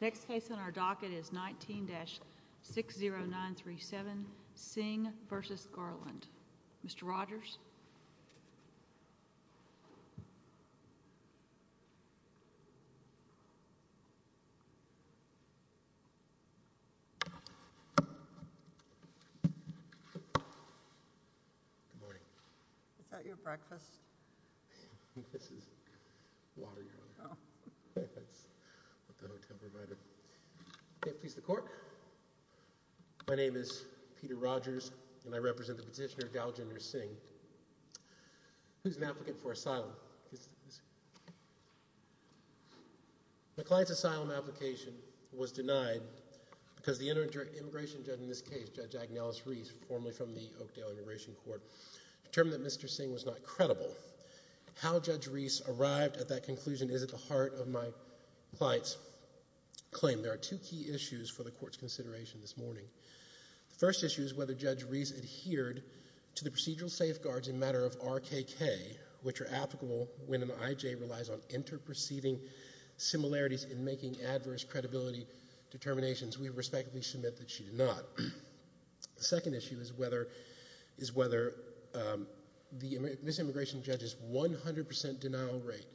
Next case on our docket is 19-60937 Singh v. Garland. Mr. Rogers? Good morning. Is that your breakfast? My name is Peter Rogers, and I represent the petitioner Daljinder Singh, who is an applicant for asylum. The client's asylum application was denied because the immigration judge in this case, Judge Agnelis Reese, formerly from the Oakdale Immigration Court, determined that Mr. Singh was not credible. How Judge Reese arrived at that conclusion is at the heart of my client's claim. There are two key issues for the Court's consideration this morning. The first issue is whether Judge Reese adhered to the procedural safeguards in matter of RKK, which are applicable when an IJ relies on interproceeding similarities in making adverse credibility determinations. We respectfully submit that she did not. The second issue is whether Ms. Immigration Judge's 100% denial rate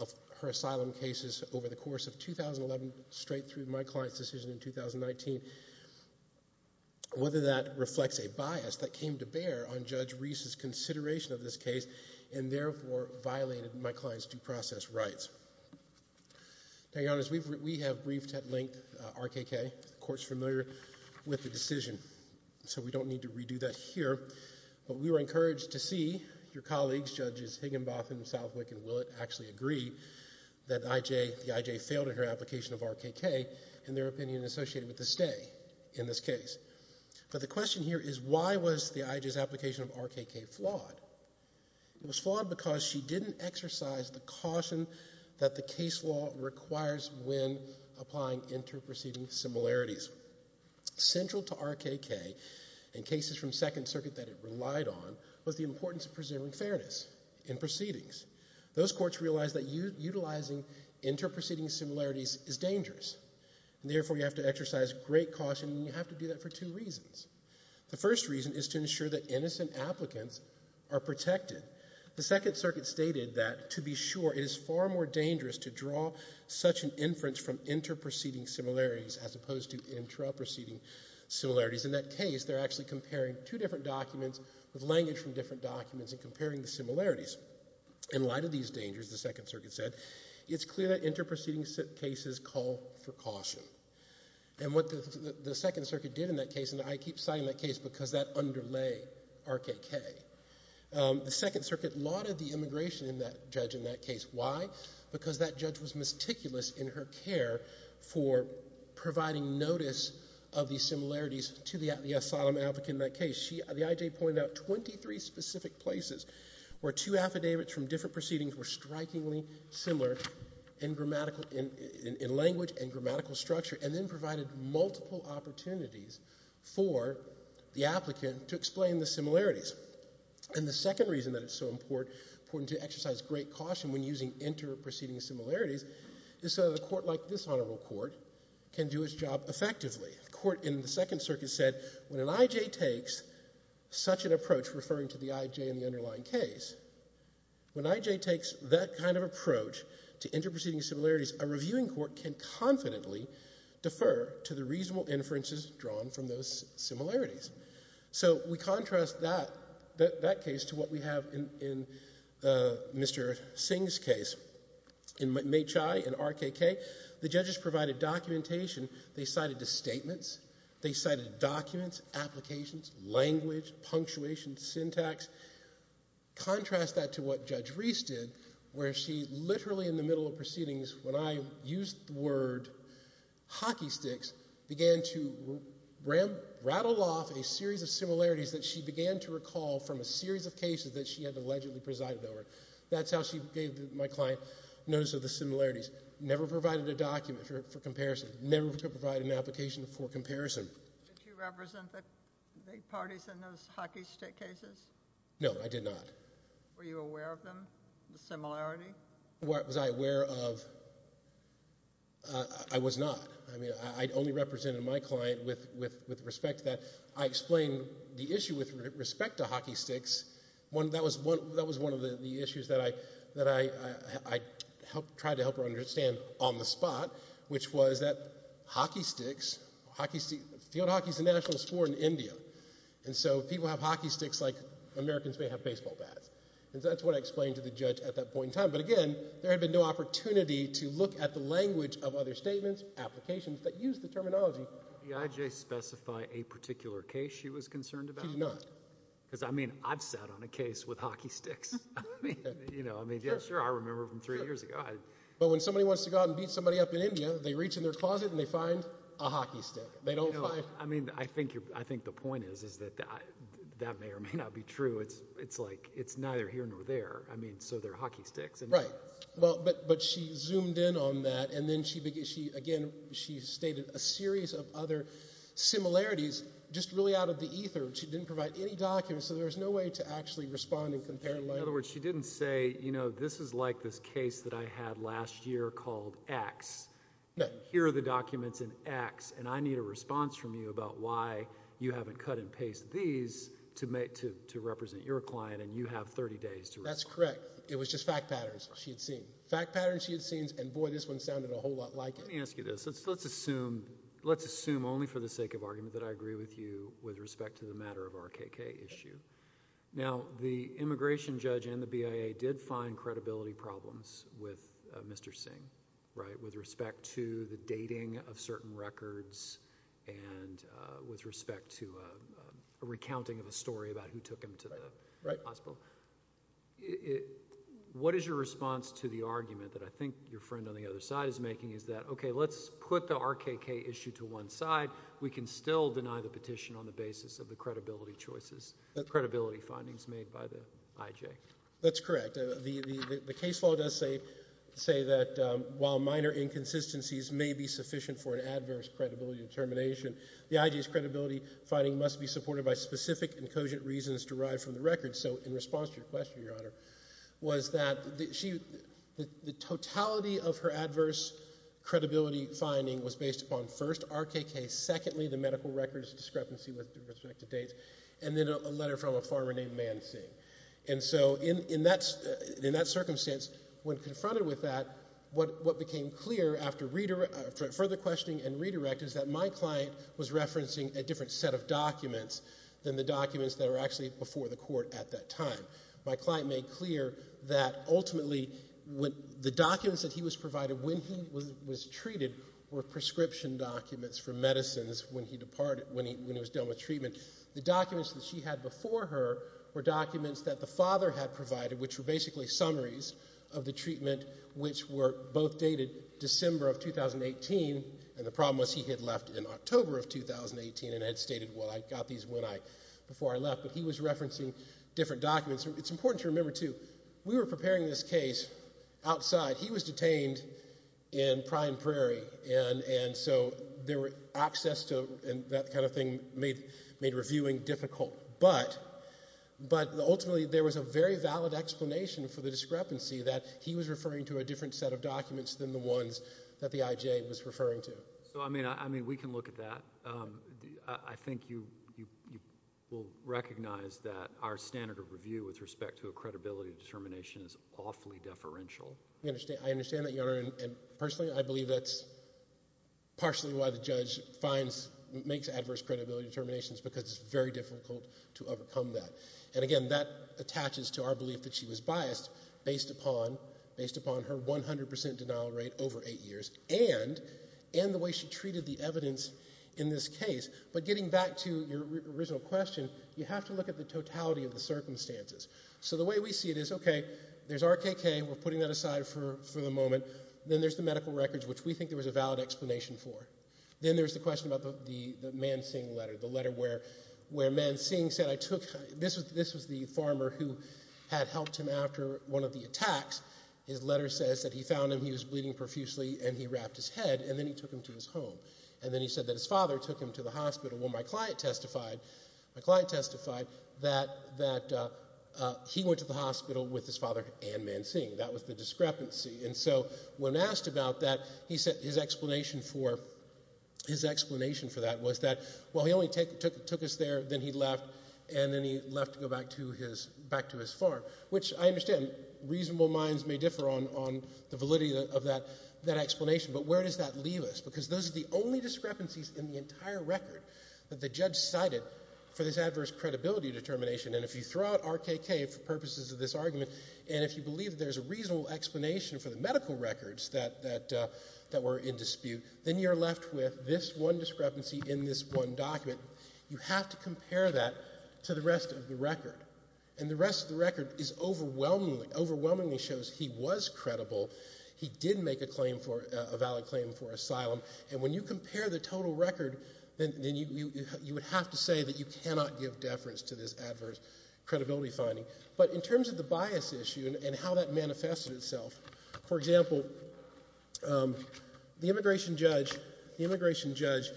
of her asylum cases over the course of 2011, straight through my client's decision in 2019, whether that reflects a bias that came to bear on Judge Reese's consideration of this case, and therefore violated my client's due process rights. Now, Your Honors, we have briefed at length RKK. The Court's familiar with the decision, so we don't need to redo that here. But we were encouraged to see your colleagues, Judges Higginbotham, Southwick, and Willett, actually agree that the IJ failed in her application of RKK, and their opinion associated with the stay in this case. But the question here is why was the IJ's application of RKK flawed? It was flawed because she didn't exercise the caution that the case law requires when applying interproceeding similarities. Central to RKK, in cases from Second Circuit that it relied on, was the importance of preserving fairness in proceedings. Those courts realized that utilizing interproceeding similarities is dangerous, and therefore you have to exercise great caution, and you have to do that for two reasons. The first reason is to ensure that innocent applicants are protected. The Second Circuit stated that, to be sure, it is far more dangerous to draw such an inference from interproceeding similarities as opposed to intraproceeding similarities. In that case, they're actually comparing two different documents with language from different documents and comparing the similarities. In light of these dangers, the Second Circuit said, it's clear that interproceeding cases call for caution. And what the Second Circuit did in that case, and I keep citing that case because that underlay RKK, the Second Circuit lauded the immigration judge in that case. Why? Because that judge was meticulous in her care for providing notice of these similarities to the asylum applicant in that case. The IJ pointed out 23 specific places where two affidavits from different proceedings were strikingly similar in language and grammatical structure, and then provided multiple opportunities for the applicant to explain the similarities. And the second reason that it's so important to exercise great caution when using interproceeding similarities is so that a court like this Honorable Court can do its job effectively. The court in the Second Circuit said, when an IJ takes such an approach, referring to the IJ in the underlying case, when an IJ takes that kind of approach to interproceeding similarities, a reviewing court can confidently defer to the reasonable inferences drawn from those similarities. So we contrast that case to what we have in Mr. Singh's case. In MHI and RKK, the judges provided documentation. They cited the statements. They cited documents, applications, language, punctuation, syntax. Contrast that to what Judge Reese did, where she literally in the middle of proceedings, when I used the word hockey sticks, began to rattle off a series of similarities that she began to recall from a series of cases that she had allegedly presided over. That's how she gave my client notice of the similarities. Never provided a document for comparison. Never provided an application for comparison. Did you represent the parties in those hockey stick cases? No, I did not. Were you aware of them, the similarity? Was I aware of? I was not. I mean, I only represented my client with respect to that. I explained the issue with respect to hockey sticks. That was one of the issues that I tried to help her understand on the spot, which was that hockey sticks, field hockey is a national sport in India, and so people have hockey sticks like Americans may have baseball bats. And that's what I explained to the judge at that point in time. But again, there had been no opportunity to look at the language of other statements, applications that used the terminology. Did EIJ specify a particular case she was concerned about? She did not. Because I mean, I've sat on a case with hockey sticks. I mean, yeah, sure, I remember from three years ago. But when somebody wants to go out and beat somebody up in India, they reach in their closet and they find a hockey stick. They don't find... I mean, I think the point is, is that that may or may not be true. It's like, it's neither here nor there. I mean, so they're hockey sticks. Right. Well, but she zoomed in on that. And then she, again, she stated a series of other similarities, just really out of the ether. She didn't provide any documents. So there was no way to actually respond and compare. In other words, she didn't say, you know, this is like this case that I had last year called X. No. Here are the documents in X, and I need a response from you about why you haven't cut and pasted these to represent your client and you have 30 days to respond. That's correct. It was just fact patterns she had seen. Fact patterns she had seen, and boy, this one sounded a whole lot like it. Let me ask you this. Let's assume, let's assume only for the sake of argument that I agree with you with respect to the matter of RKK issue. Now, the immigration judge and the BIA did find credibility problems with Mr. Singh, right, with respect to the dating of certain records and with respect to a recounting of a story about who took him to the hospital. What is your response to the argument that I think your friend on the other side is making is that, okay, let's put the RKK issue to one side. We can still deny the petition on the basis of the credibility choices. The credibility findings made by the IJ. That's correct. The case law does say that while minor inconsistencies may be sufficient for an adverse credibility determination, the IJ's credibility finding must be supported by specific and cogent reasons derived from the records. So, in response to your question, Your Honor, was that the totality of her adverse credibility finding was based upon, first, RKK, secondly, the medical records discrepancy with respect to dates, and then a letter from a farmer named Man Singh. And so, in that circumstance, when confronted with that, what became clear after further questioning and redirect is that my client was referencing a different set of documents than the documents that were actually before the court at that time. My client made clear that ultimately the documents that he was provided when he was treated were The documents that she had before her were documents that the father had provided, which were basically summaries of the treatment, which were both dated December of 2018. And the problem was he had left in October of 2018 and had stated, well, I got these when I, before I left. But he was referencing different documents. It's important to remember, too, we were preparing this case outside. He was detained in Prime Prairie. And so, access to that kind of thing made reviewing difficult. But ultimately, there was a very valid explanation for the discrepancy that he was referring to a different set of documents than the ones that the IJ was referring to. So, I mean, we can look at that. I think you will recognize that our standard of review with respect to a credibility determination I understand that, Your Honor. And personally, I believe that's partially why the judge finds, makes adverse credibility determinations because it's very difficult to overcome that. And again, that attaches to our belief that she was biased based upon her 100 percent denial rate over eight years and the way she treated the evidence in this case. But getting back to your original question, you have to look at the totality of the circumstances. So, the way we see it is, okay, there's RKK. We're putting that aside for the moment. Then there's the medical records, which we think there was a valid explanation for. Then there's the question about the Man Singh letter, the letter where Man Singh said, this was the farmer who had helped him after one of the attacks. His letter says that he found him, he was bleeding profusely, and he wrapped his head, and then he took him to his home. And then he said that his father took him to the hospital. Well, my client testified, my client testified that he went to the hospital with his father and Man Singh. That was the discrepancy. And so, when asked about that, he said his explanation for that was that, well, he only took us there, then he left, and then he left to go back to his farm, which I understand reasonable minds may differ on the validity of that explanation, but where does that leave us? Because those are the only discrepancies in the entire record that the judge cited for this adverse credibility determination. And if you throw out RKK for purposes of this argument, and if you believe there's a reasonable explanation for the medical records that were in dispute, then you're left with this one discrepancy in this one document. You have to compare that to the rest of the record. And the rest of the record is overwhelmingly, overwhelmingly shows he was credible. He did make a claim for, a valid claim for asylum. And when you compare the total record, then you would have to say that you cannot give deference to this adverse credibility finding. But in terms of the bias issue and how that manifested itself, for example, the immigration judge, the immigration judge,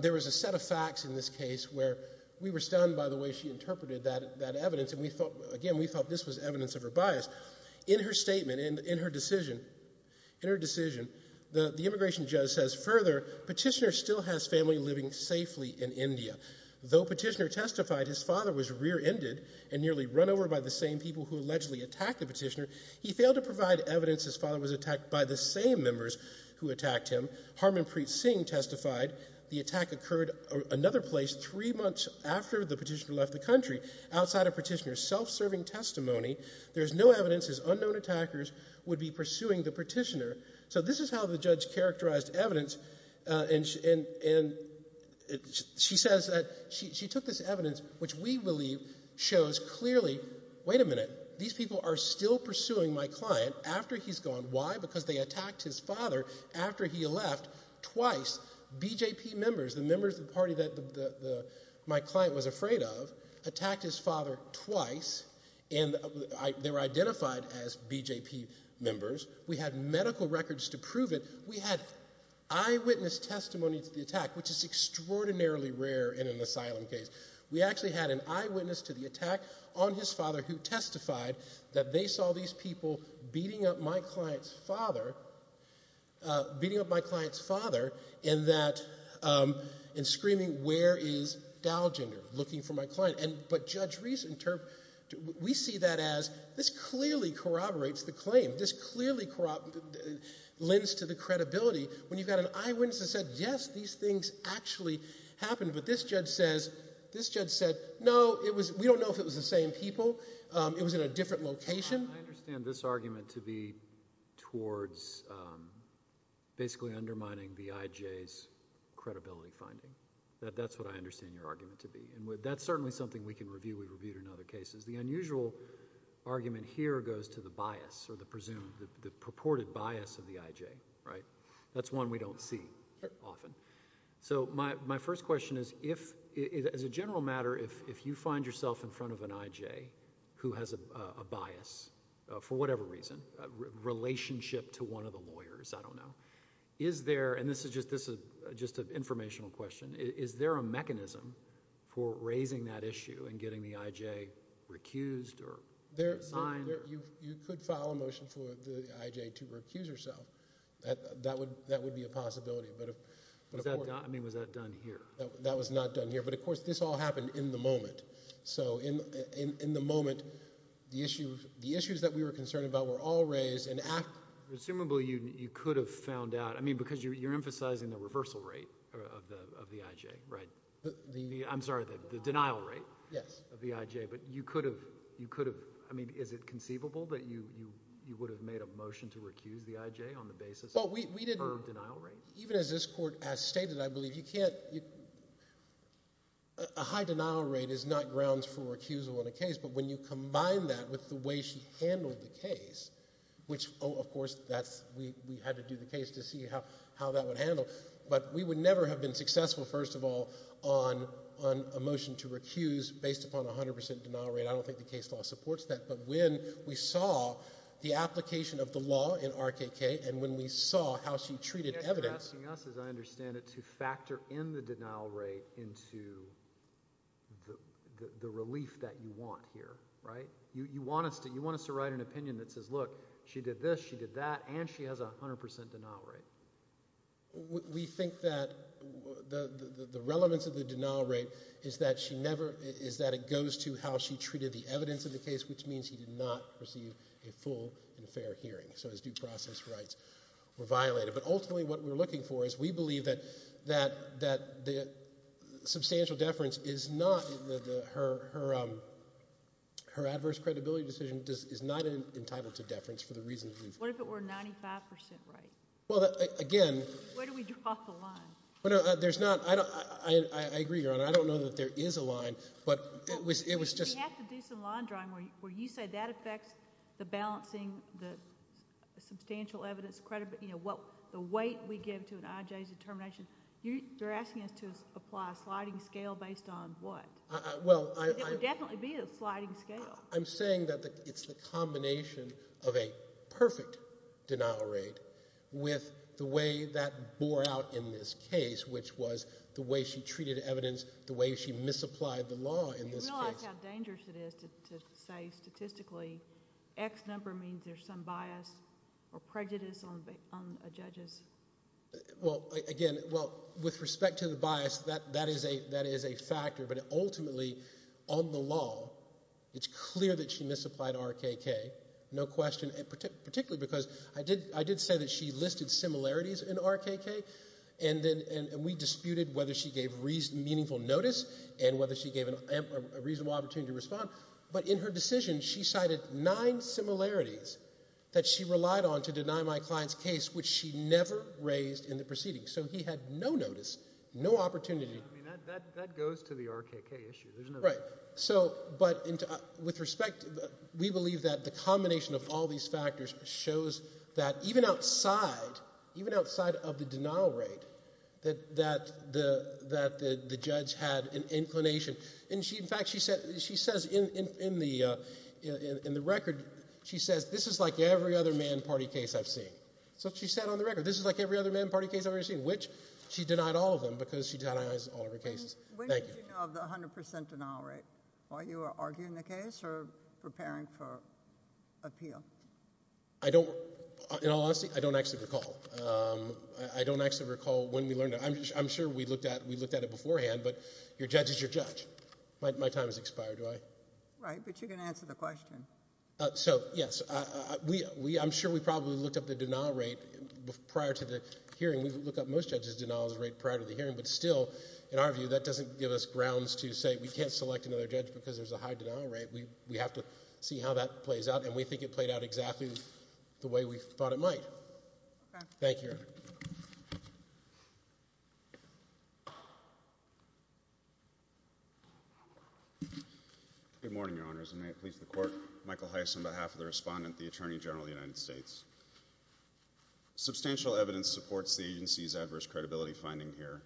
there was a set of facts in this case where we were stunned by the way she interpreted that evidence, and we felt, again, we felt this was evidence of her bias. In her statement, in her decision, in her decision, the immigration judge says, further, Petitioner still has family living safely in India. Though Petitioner testified his father was rear-ended and nearly run over by the same people who allegedly attacked the petitioner, he failed to provide evidence his father was attacked by the same members who attacked him. Harmanpreet Singh testified the attack occurred another place three months after the petitioner left the country, outside of Petitioner's self-serving testimony. There's no evidence his unknown attackers would be pursuing the petitioner. So this is how the judge characterized evidence, and she says that she took this evidence, which we believe shows clearly, wait a minute, these people are still pursuing my client after he's gone. Why? Because they attacked his father after he left twice. BJP members, the members of the party that my client was afraid of, attacked his father twice, and they were identified as BJP members. We had medical records to prove it. We had eyewitness testimony to the attack, which is extraordinarily rare in an asylum case. We actually had an eyewitness to the attack on his father who testified that they saw these people beating up my client's father, beating up my client's father, and that, and screaming, where is Dalginder? Looking for my client. But Judge Reese, we see that as, this clearly corroborates the claim. This clearly lends to the credibility when you've got an eyewitness that said, yes, these things actually happened, but this judge said, no, we don't know if it was the same people. It was in a different location. I understand this argument to be towards basically undermining the IJ's credibility finding. That's what I understand your argument to be. That's certainly something we can review. We've reviewed it in other cases. The unusual argument here goes to the bias or the presumed, the purported bias of the IJ, right? That's one we don't see often. So my first question is, as a general matter, if you find yourself in front of an IJ who has a bias, for whatever reason, relationship to one of the lawyers, I don't know, is there, and this is just an informational question, is there a mechanism for raising that issue and getting the IJ recused or resigned? You could file a motion for the IJ to recuse herself. That would be a possibility. But of course... I mean, was that done here? That was not done here. But of course, this all happened in the moment. So in the moment, the issues that we were concerned about were all raised, and after... Presumably, you could have found out, I mean, because you're emphasizing the reversal rate of the IJ, right? The... I'm sorry, the denial rate of the IJ. Yes. But you could have... I mean, is it conceivable that you would have made a motion to recuse the IJ on the basis of her denial rate? Even as this Court has stated, I believe you can't... a high denial rate is not grounds for recusal in a case, but when you combine that with the way she handled the case, which oh, of course, that's... we had to do the case to see how that would handle. But we would never have been successful, first of all, on a motion to recuse based upon a hundred percent denial rate. I don't think the case law supports that. But when we saw the application of the law in RKK, and when we saw how she treated evidence... I guess you're asking us, as I understand it, to factor in the denial rate into the relief that you want here, right? You want us to write an opinion that says, look, she did this, she did that, and she has a hundred percent denial rate. We think that the relevance of the denial rate is that she never... is that it goes to how she treated the evidence of the case, which means he did not receive a full and fair hearing. So his due process rights were violated. But ultimately, what we're looking for is we believe that the substantial deference is not... her adverse credibility decision is not entitled to deference for the reasons we've... What if it were a 95 percent rate? Well, again... Where do we draw the line? There's not... I agree, Your Honor. I don't know that there is a line, but it was just... We have to do some line drawing where you say that affects the balancing, the substantial evidence, the weight we give to an IJ's determination. I'm not sure that's what you're saying. I'm not sure that's what you're saying. Well, I... It would definitely be a sliding scale. I'm saying that it's the combination of a perfect denial rate with the way that bore out in this case, which was the way she treated evidence, the way she misapplied the law in this case. Do you realize how dangerous it is to say statistically, X number means there's some bias or prejudice on a judge's... Well, again, well, with respect to the bias, that is a fact. It's a fact. It's a fact. It's a fact. It's a fact. It's a fact. It's a fact. But ultimately, on the law, it's clear that she misapplied RKK, no question, and particularly because I did say that she listed similarities in RKK and we disputed whether she gave reasonable notice and whether she gave a reasonable opportunity to respond. In her decision, she cited nine similarities that she relied on to deny my client's case, which she never raised in the proceedings. He had no notice, no opportunity. That goes to the argument of the judges. That's the RKK issue, isn't it? Right. So, but with respect, we believe that the combination of all these factors shows that even outside, even outside of the denial rate, that the judge had an inclination. In fact, she says in the record, she says, this is like every other man party case I've seen. So she said on the record, this is like every other man party case I've ever seen, which she denied all of them because she denies all of her cases. Thank you. When did you know of the 100 percent denial rate? While you were arguing the case or preparing for appeal? I don't, in all honesty, I don't actually recall. I don't actually recall when we learned that. I'm sure we looked at it beforehand, but your judge is your judge. My time has expired, right? Right, but you can answer the question. So, yes, I'm sure we probably looked up the denial rate prior to the hearing. We look up most judges' denials rate prior to the hearing, but still, in our view, that doesn't give us grounds to say we can't select another judge because there's a high denial rate. We have to see how that plays out, and we think it played out exactly the way we thought it might. Thank you. Good morning, Your Honors, and may it please the Court, Michael Heiss on behalf of the Respondent, the Attorney General of the United States. Substantial evidence supports the agency's adverse credibility finding here,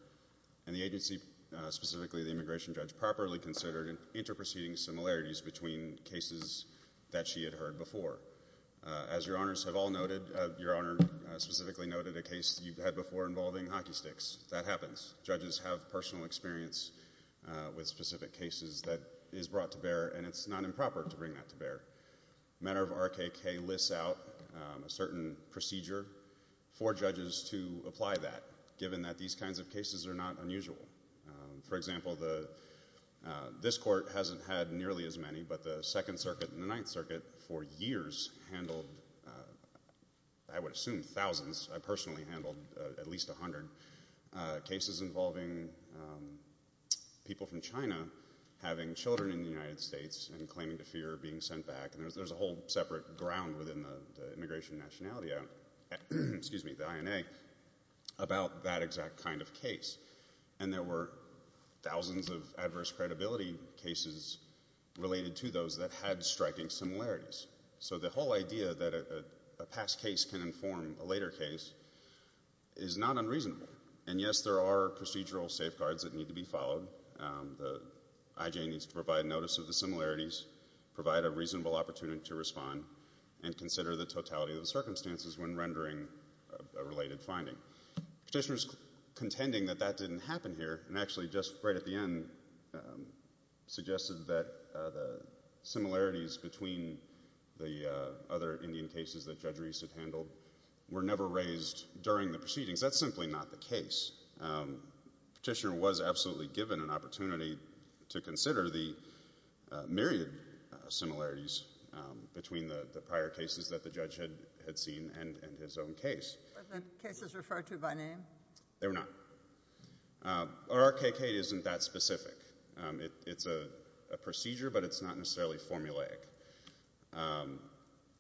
and the agency, specifically the immigration judge, properly considered interproceeding similarities between cases that she had heard before. As Your Honors have all noted, Your Honor specifically noted a case you've had before involving hockey sticks. That happens. Judges have personal experience with specific cases that is brought to bear, and it's not improper to bring that to bear. Matter of RKK lists out a certain procedure for judges to apply that, given that these kinds of cases are not unusual. For example, this Court hasn't had nearly as many, but the Second Circuit and the Ninth Circuit for years handled, I would assume thousands, I personally handled at least a hundred cases involving people from China having children in the United States and claiming to fear being sent back. There's a whole separate ground within the immigration nationality, excuse me, the INA, about that exact kind of case. And there were thousands of adverse credibility cases related to those that had striking similarities. So the whole idea that a past case can inform a later case is not unreasonable. And yes, there are procedural safeguards that need to be followed. The IJ needs to provide notice of the similarities, provide a reasonable opportunity to respond, and consider the totality of the circumstances when rendering a related finding. Petitioner's contending that that didn't happen here, and actually just right at the end suggested that the similarities between the other Indian cases that Judge Reese had handled were never raised during the proceedings. That's simply not the case. Petitioner was absolutely given an opportunity to consider the myriad similarities between the prior cases that the judge had seen and his own case. Were the cases referred to by name? They were not. RRKK isn't that specific. It's a procedure, but it's not necessarily formulaic.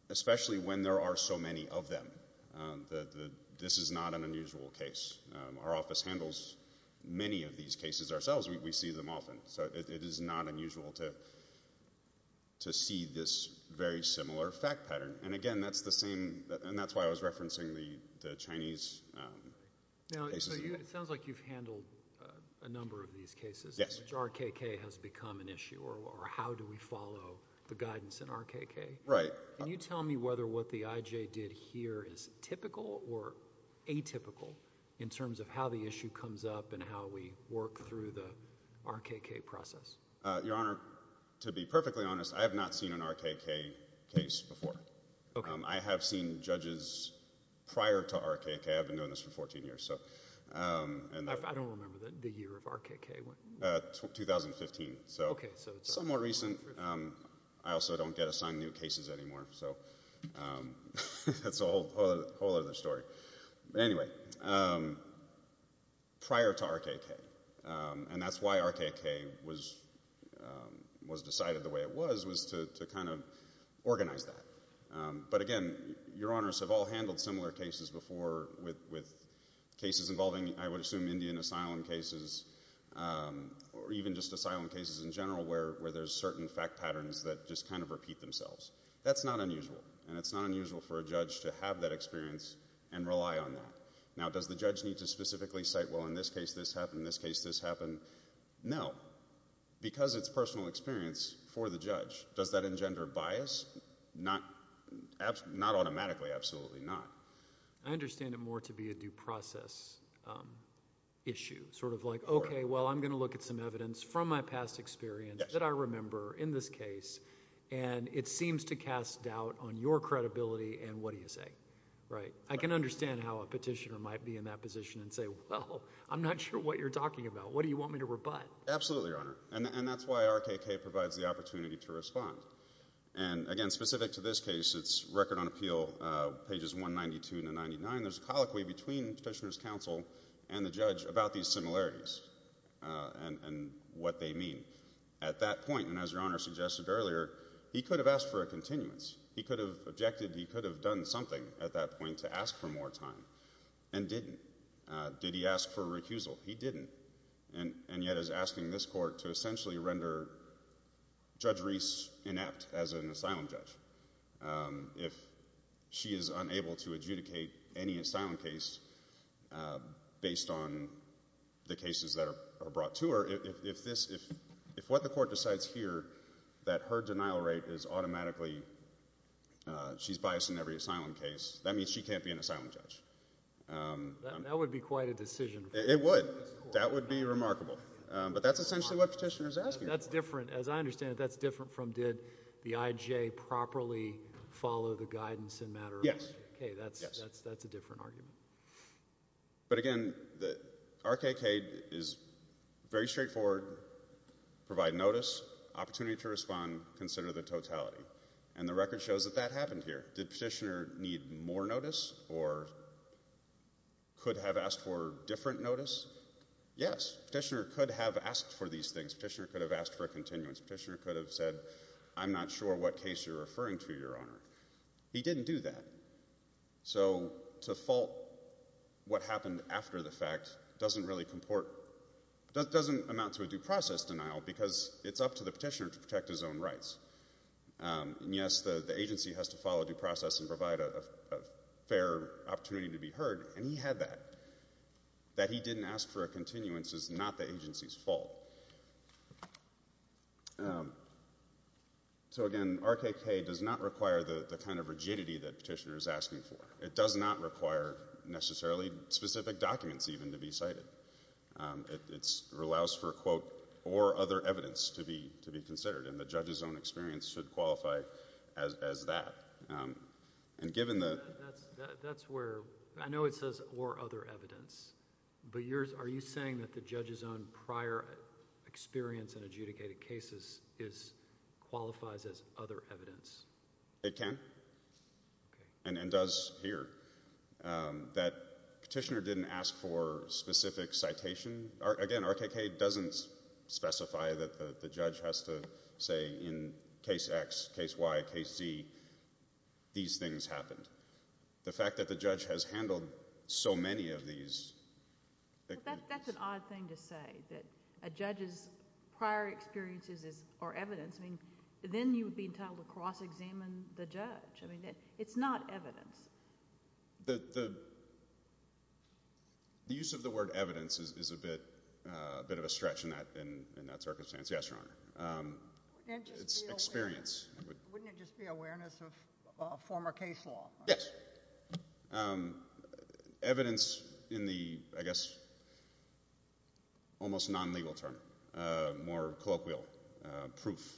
Especially when there are so many of them. This is not an unusual case. Our office handles many of these cases ourselves. We see them often. It is not unusual to see this very similar fact pattern. And again, that's why I was referencing the Chinese cases. It sounds like you've handled a number of these cases. RRKK has become an issue. Or how do we follow the guidance in RRKK? Can you tell me whether what the IJ did here is typical or atypical in terms of how the issue comes up and how we work through the RRKK process? Your Honor, to be perfectly honest, I have not seen an RRKK case before. I have seen judges prior to RRKK. I've been doing this for 14 years. I don't remember the year of RRKK. 2015. Somewhat recent. I also don't get assigned new cases anymore. That's a whole other story. Anyway, prior to RRKK. And that's why RRKK was decided the way it was, was to kind of organize that. But again, Your Honors have all handled similar cases before with cases involving, I would assume, Indian asylum cases or even just asylum cases in general where there's certain fact patterns that just kind of repeat themselves. That's not unusual. And it's not unusual for a judge to have that experience and rely on that. Now, does the judge need to specifically cite, well, in this case this happened, in this case this happened? No. Because it's personal experience for the judge. Does that engender bias? Not automatically. Absolutely not. I understand it more to be a due process issue. Sort of like, okay, well, I'm going to look at some evidence from my past experience that I remember in this case. And it seems to cast doubt on your credibility and what do you say. I can understand how a petitioner might be in that position and say, well, I'm not sure what you're talking about. What do you want me to rebut? Absolutely, Your Honor. And that's why RRKK provides the opportunity to respond. And again, specific to this case, it's Record on Appeal, pages 192 to 99. There's a colloquy between Petitioner's Counsel and the judge about these similarities and what they mean. At that point, and as Your Honor suggested earlier, he could have asked for a continuance. He could have objected, he could have done something at that point to ask for more time. And didn't. Did he ask for a recusal? He didn't. And yet is asking this court to essentially render Judge Reese inept as an asylum judge. If she is unable to adjudicate any asylum case based on the cases that are brought to her, if what the court decides here, that her denial rate is automatically, she's biased in every asylum case, that means she can't be an asylum judge. That would be quite a decision. It would. That would be remarkable. But that's essentially what Petitioner's asking. That's different. As I understand it, that's different from did the IJ properly follow the guidance in matter of... Yes. Okay, that's a different argument. But again, the RKK is very straightforward. Provide notice, opportunity to respond, consider the totality. And the record shows that that happened here. Did Petitioner need more notice or could have asked for different notice? Yes, Petitioner could have asked for these things. Petitioner could have asked for a continuance. Petitioner could have said, I'm not sure what case you're referring to, Your Honor. He didn't do that. So to fault what happened after the fact doesn't really comport, doesn't amount to a due process denial because it's up to the Petitioner to protect his own rights. And yes, the agency has to follow due process and provide a fair opportunity to be heard. And he had that. That he didn't ask for a continuance is not the agency's fault. So again, RKK does not require the kind of rigidity that Petitioner is asking for. It does not require necessarily specific documents even to be cited. It allows for, quote, or other evidence to be considered. And the judge's own experience should qualify as that. And given the... That's where, I know it says or other evidence, but are you saying that the judge's own prior experience in adjudicated cases qualifies as other evidence? It can. And does here. That Petitioner didn't ask for specific citation. Again, RKK doesn't specify that the judge has to say in case X, case Y, case Z, these things happened. The fact that the judge has handled so many of these... That's an odd thing to say, that a judge's prior experiences are evidence. Then you would be entitled to cross-examine the judge. It's not evidence. The use of the word evidence is a bit of a stretch in that circumstance. Yes, Your Honor. It's experience. Wouldn't it just be awareness of former case law? Yes. Evidence in the, I guess, almost non-legal term. More colloquial. Proof.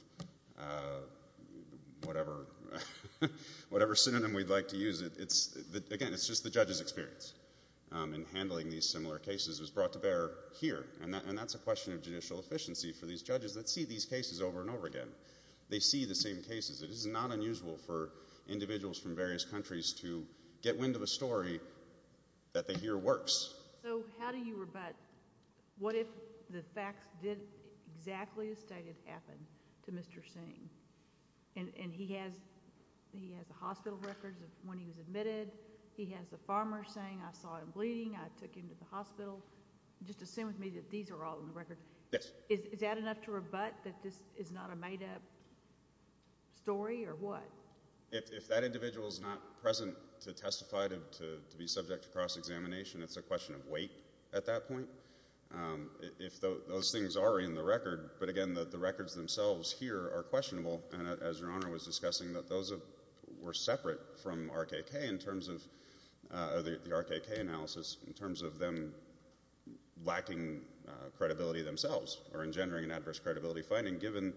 Whatever. Whatever synonym we'd like to use. Again, it's just the judge's experience in handling these similar cases was brought to bear here. And that's a question of judicial efficiency for these judges that see these cases over and over again. They see the same cases. It is not unusual for individuals from various countries to get wind of a story that they hear works. So how do you rebut, what if the facts didn't exactly as stated happen to Mr. Singh? And he has the hospital records of when he was admitted. He has the farmer saying, I saw him bleeding. I took him to the hospital. Just assume with me that these are all in the record. Yes. Is that enough to rebut that this is not a made-up story, or what? If that individual is not present to testify to be subject to cross-examination, it's a question of weight at that point. If those things are in the record, but again, the records themselves here are indivisible. And as Your Honor was discussing, those were separate from RKK in terms of, the RKK analysis, in terms of them lacking credibility themselves or engendering an adverse credibility finding given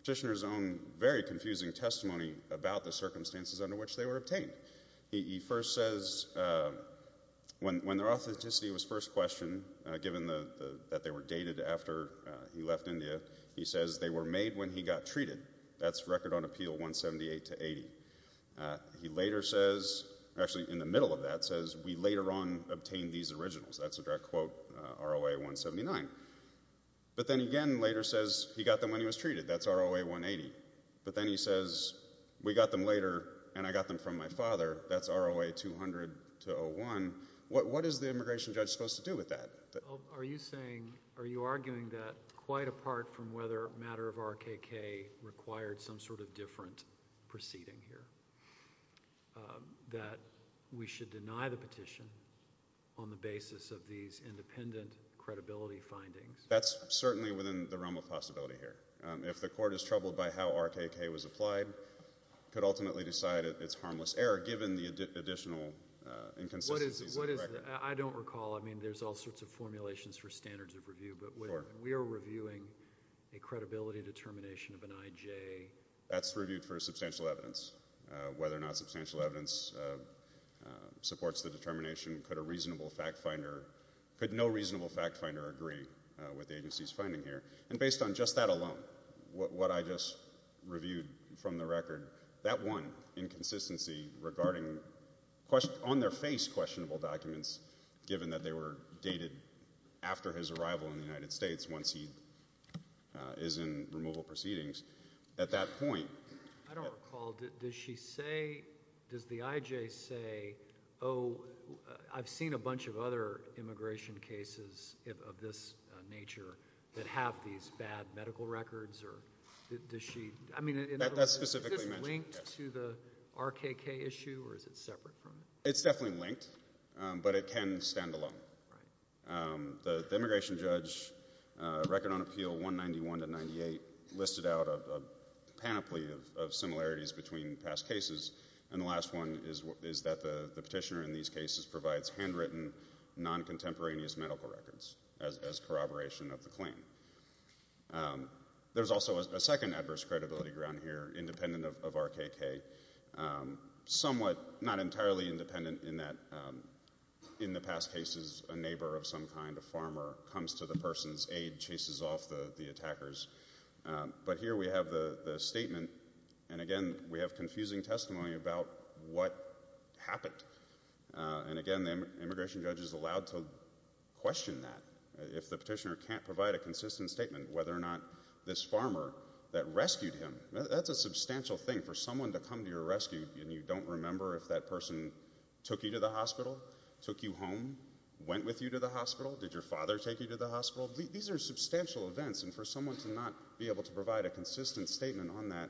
Petitioner's own very confusing testimony about the circumstances under which they were obtained. He first says, when their authenticity was first questioned, given that they were dated after he left India, he says they were made when he got treated. That's Record on Appeal 178-80. He later says, actually in the middle of that says, we later on obtained these originals. That's a direct quote, ROA 179. But then again, later says, he got them when he was treated. That's ROA 180. But then he says, we got them later, and I got them from my father. That's ROA 200-01. What is the immigration judge supposed to do with that? Are you saying, are you arguing that, quite apart from whether a matter of RKK required some sort of different proceeding here, that we should deny the petition on the basis of these independent credibility findings? That's certainly within the realm of possibility here. If the court is troubled by how RKK was applied, it could ultimately decide it's harmless error given the additional inconsistencies in the record. What is, I don't recall, the formulations for standards of review, but we are reviewing a credibility determination of an IJ. That's reviewed for substantial evidence. Whether or not substantial evidence supports the determination, could a reasonable fact finder, could no reasonable fact finder agree with the agency's finding here. And based on just that alone, what I just reviewed from the record, that one inconsistency regarding, on their face questionable documents, given that they were dated after his arrival in the United States, once he is in removal proceedings. At that point... I don't recall, does she say, does the IJ say, oh, I've seen a bunch of other immigration cases of this nature that have these bad medical records, or does she, I mean... That's specifically mentioned. Is this linked to the RKK issue, or is it separate from it? It's definitely linked, but it can stand alone. The immigration judge record on appeal 191 to 98 listed out a panoply of similarities between past cases, and the last one is that the petitioner in these cases provides handwritten, non-contemporaneous medical records as corroboration of the claim. There's also a second adverse credibility ground here, independent of RKK, somewhat, not entirely independent in that, in the past cases, a neighbor of some kind, a farmer, comes to the person's aid, chases off the attackers. But here we have the statement, and again, we have confusing testimony about what happened. And again, the immigration judge is allowed to question that. If the petitioner can't provide a consistent statement, whether or not this farmer that rescued him, that's a substantial thing when you come to your rescue, and you don't remember if that person took you to the hospital, took you home, went with you to the hospital, did your father take you to the hospital? These are substantial events, and for someone to not be able to provide a consistent statement on that,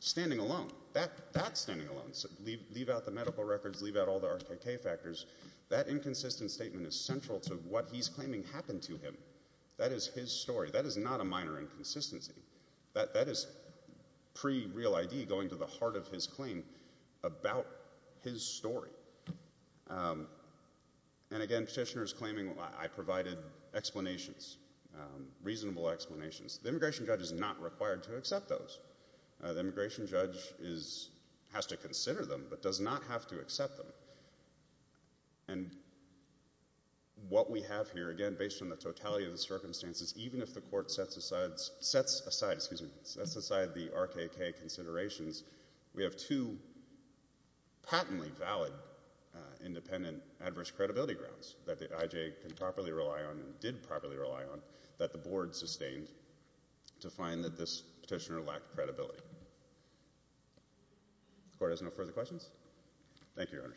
standing alone, that standing alone, leave out the medical records, leave out all the RKK factors, that inconsistent statement is central to what he's claiming happened to him. That is his story. That is not a minor inconsistency. That is not what he's claiming about his story. And again, petitioner is claiming, I provided explanations, reasonable explanations. The immigration judge is not required to accept those. The immigration judge has to consider them, but does not have to accept them. And what we have here, again, based on the totality of the circumstances, even if the court sets aside the RKK considerations, we have two patently valid independent adverse credibility grounds that the IJ can properly rely on and did properly rely on that the board sustained to find that this petitioner lacked credibility. The court has no further questions? Thank you, Your Honor.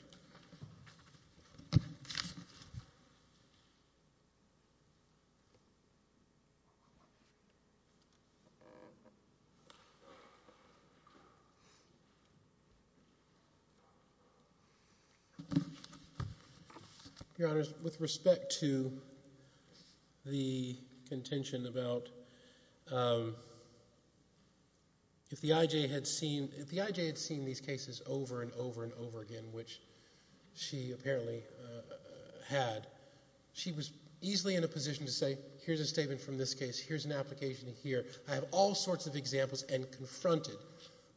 Your Honor, with respect to the contention about if the IJ had seen, if the IJ had seen these cases over and over and over again, which she apparently had, she was easily in a position to say, here's a statement from this case, here's an application here. and confronted my client with all sorts of examples and confronted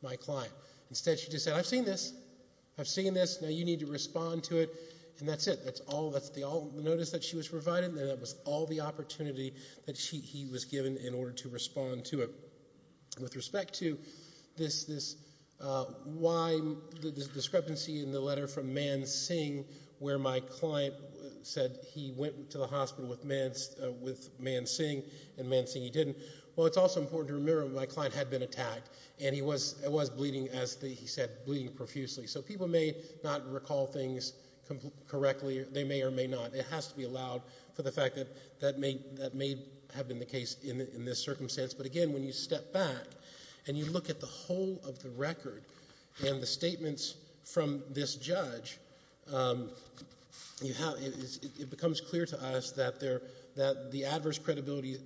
my client with all sorts of examples and confronted my client. Instead, she just said, I've seen this, I've seen this, now you need to respond to it, and that's it, that's all, that's the notice that she was provided, and that was all the opportunity that he was given in order to respond to it. With respect to this, why the discrepancy in the letter from Man Singh, where my client said he went to the hospital with Man Singh, and Man Singh, he didn't, well, it's also important to remember that he was bleeding, as he said, bleeding profusely, so people may not recall things correctly, they may or may not, it has to be allowed for the fact that that may have been the case in this circumstance, but again, when you step back and you look at the whole of the record and the statements from this judge, it becomes clear to us that the adverse credibility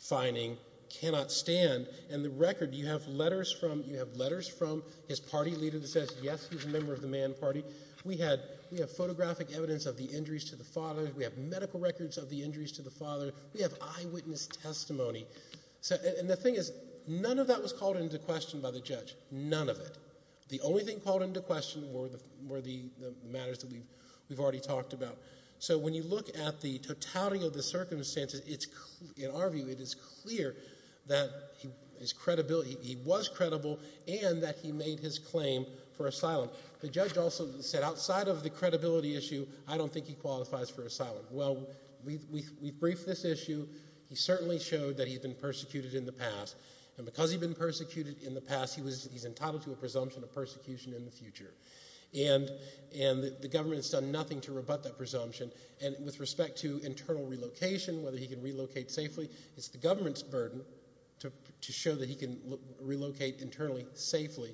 finding cannot stand, and the record, we have letters from his party leader that says yes, he's a member of the Man Party, we have photographic evidence of the injuries to the father, we have medical records of the injuries to the father, we have eyewitness testimony, and the thing is, none of that was called into question by the judge, none of it, the only thing called into question were the matters that we've already talked about, so when you look at the totality of the circumstances, in our view, it is clear and understandable and understandable and that he made his claim for asylum. The judge also said, outside of the credibility issue, I don't think he qualifies for asylum. Well, we've briefed this issue, he certainly showed that he'd been persecuted in the past, and because he'd been persecuted in the past, he's entitled to a presumption of persecution in the future, and the government's done nothing to rebut that presumption, and with respect to internal relocation, he's been living safely,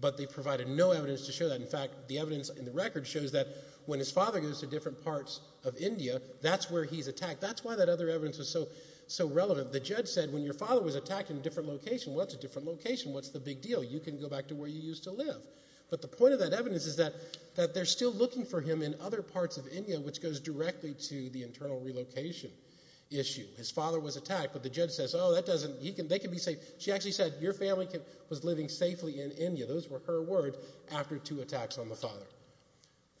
but they provided no evidence to show that, in fact, the evidence in the record shows that when his father goes to different parts of India, that's where he's attacked, that's why that other evidence was so relevant, the judge said, when your father was attacked in a different location, what's a different location, what's the big deal, you can go back to where you used to live, but the point of that evidence is that he was living in India, those were her words, after two attacks on the father. Thank you.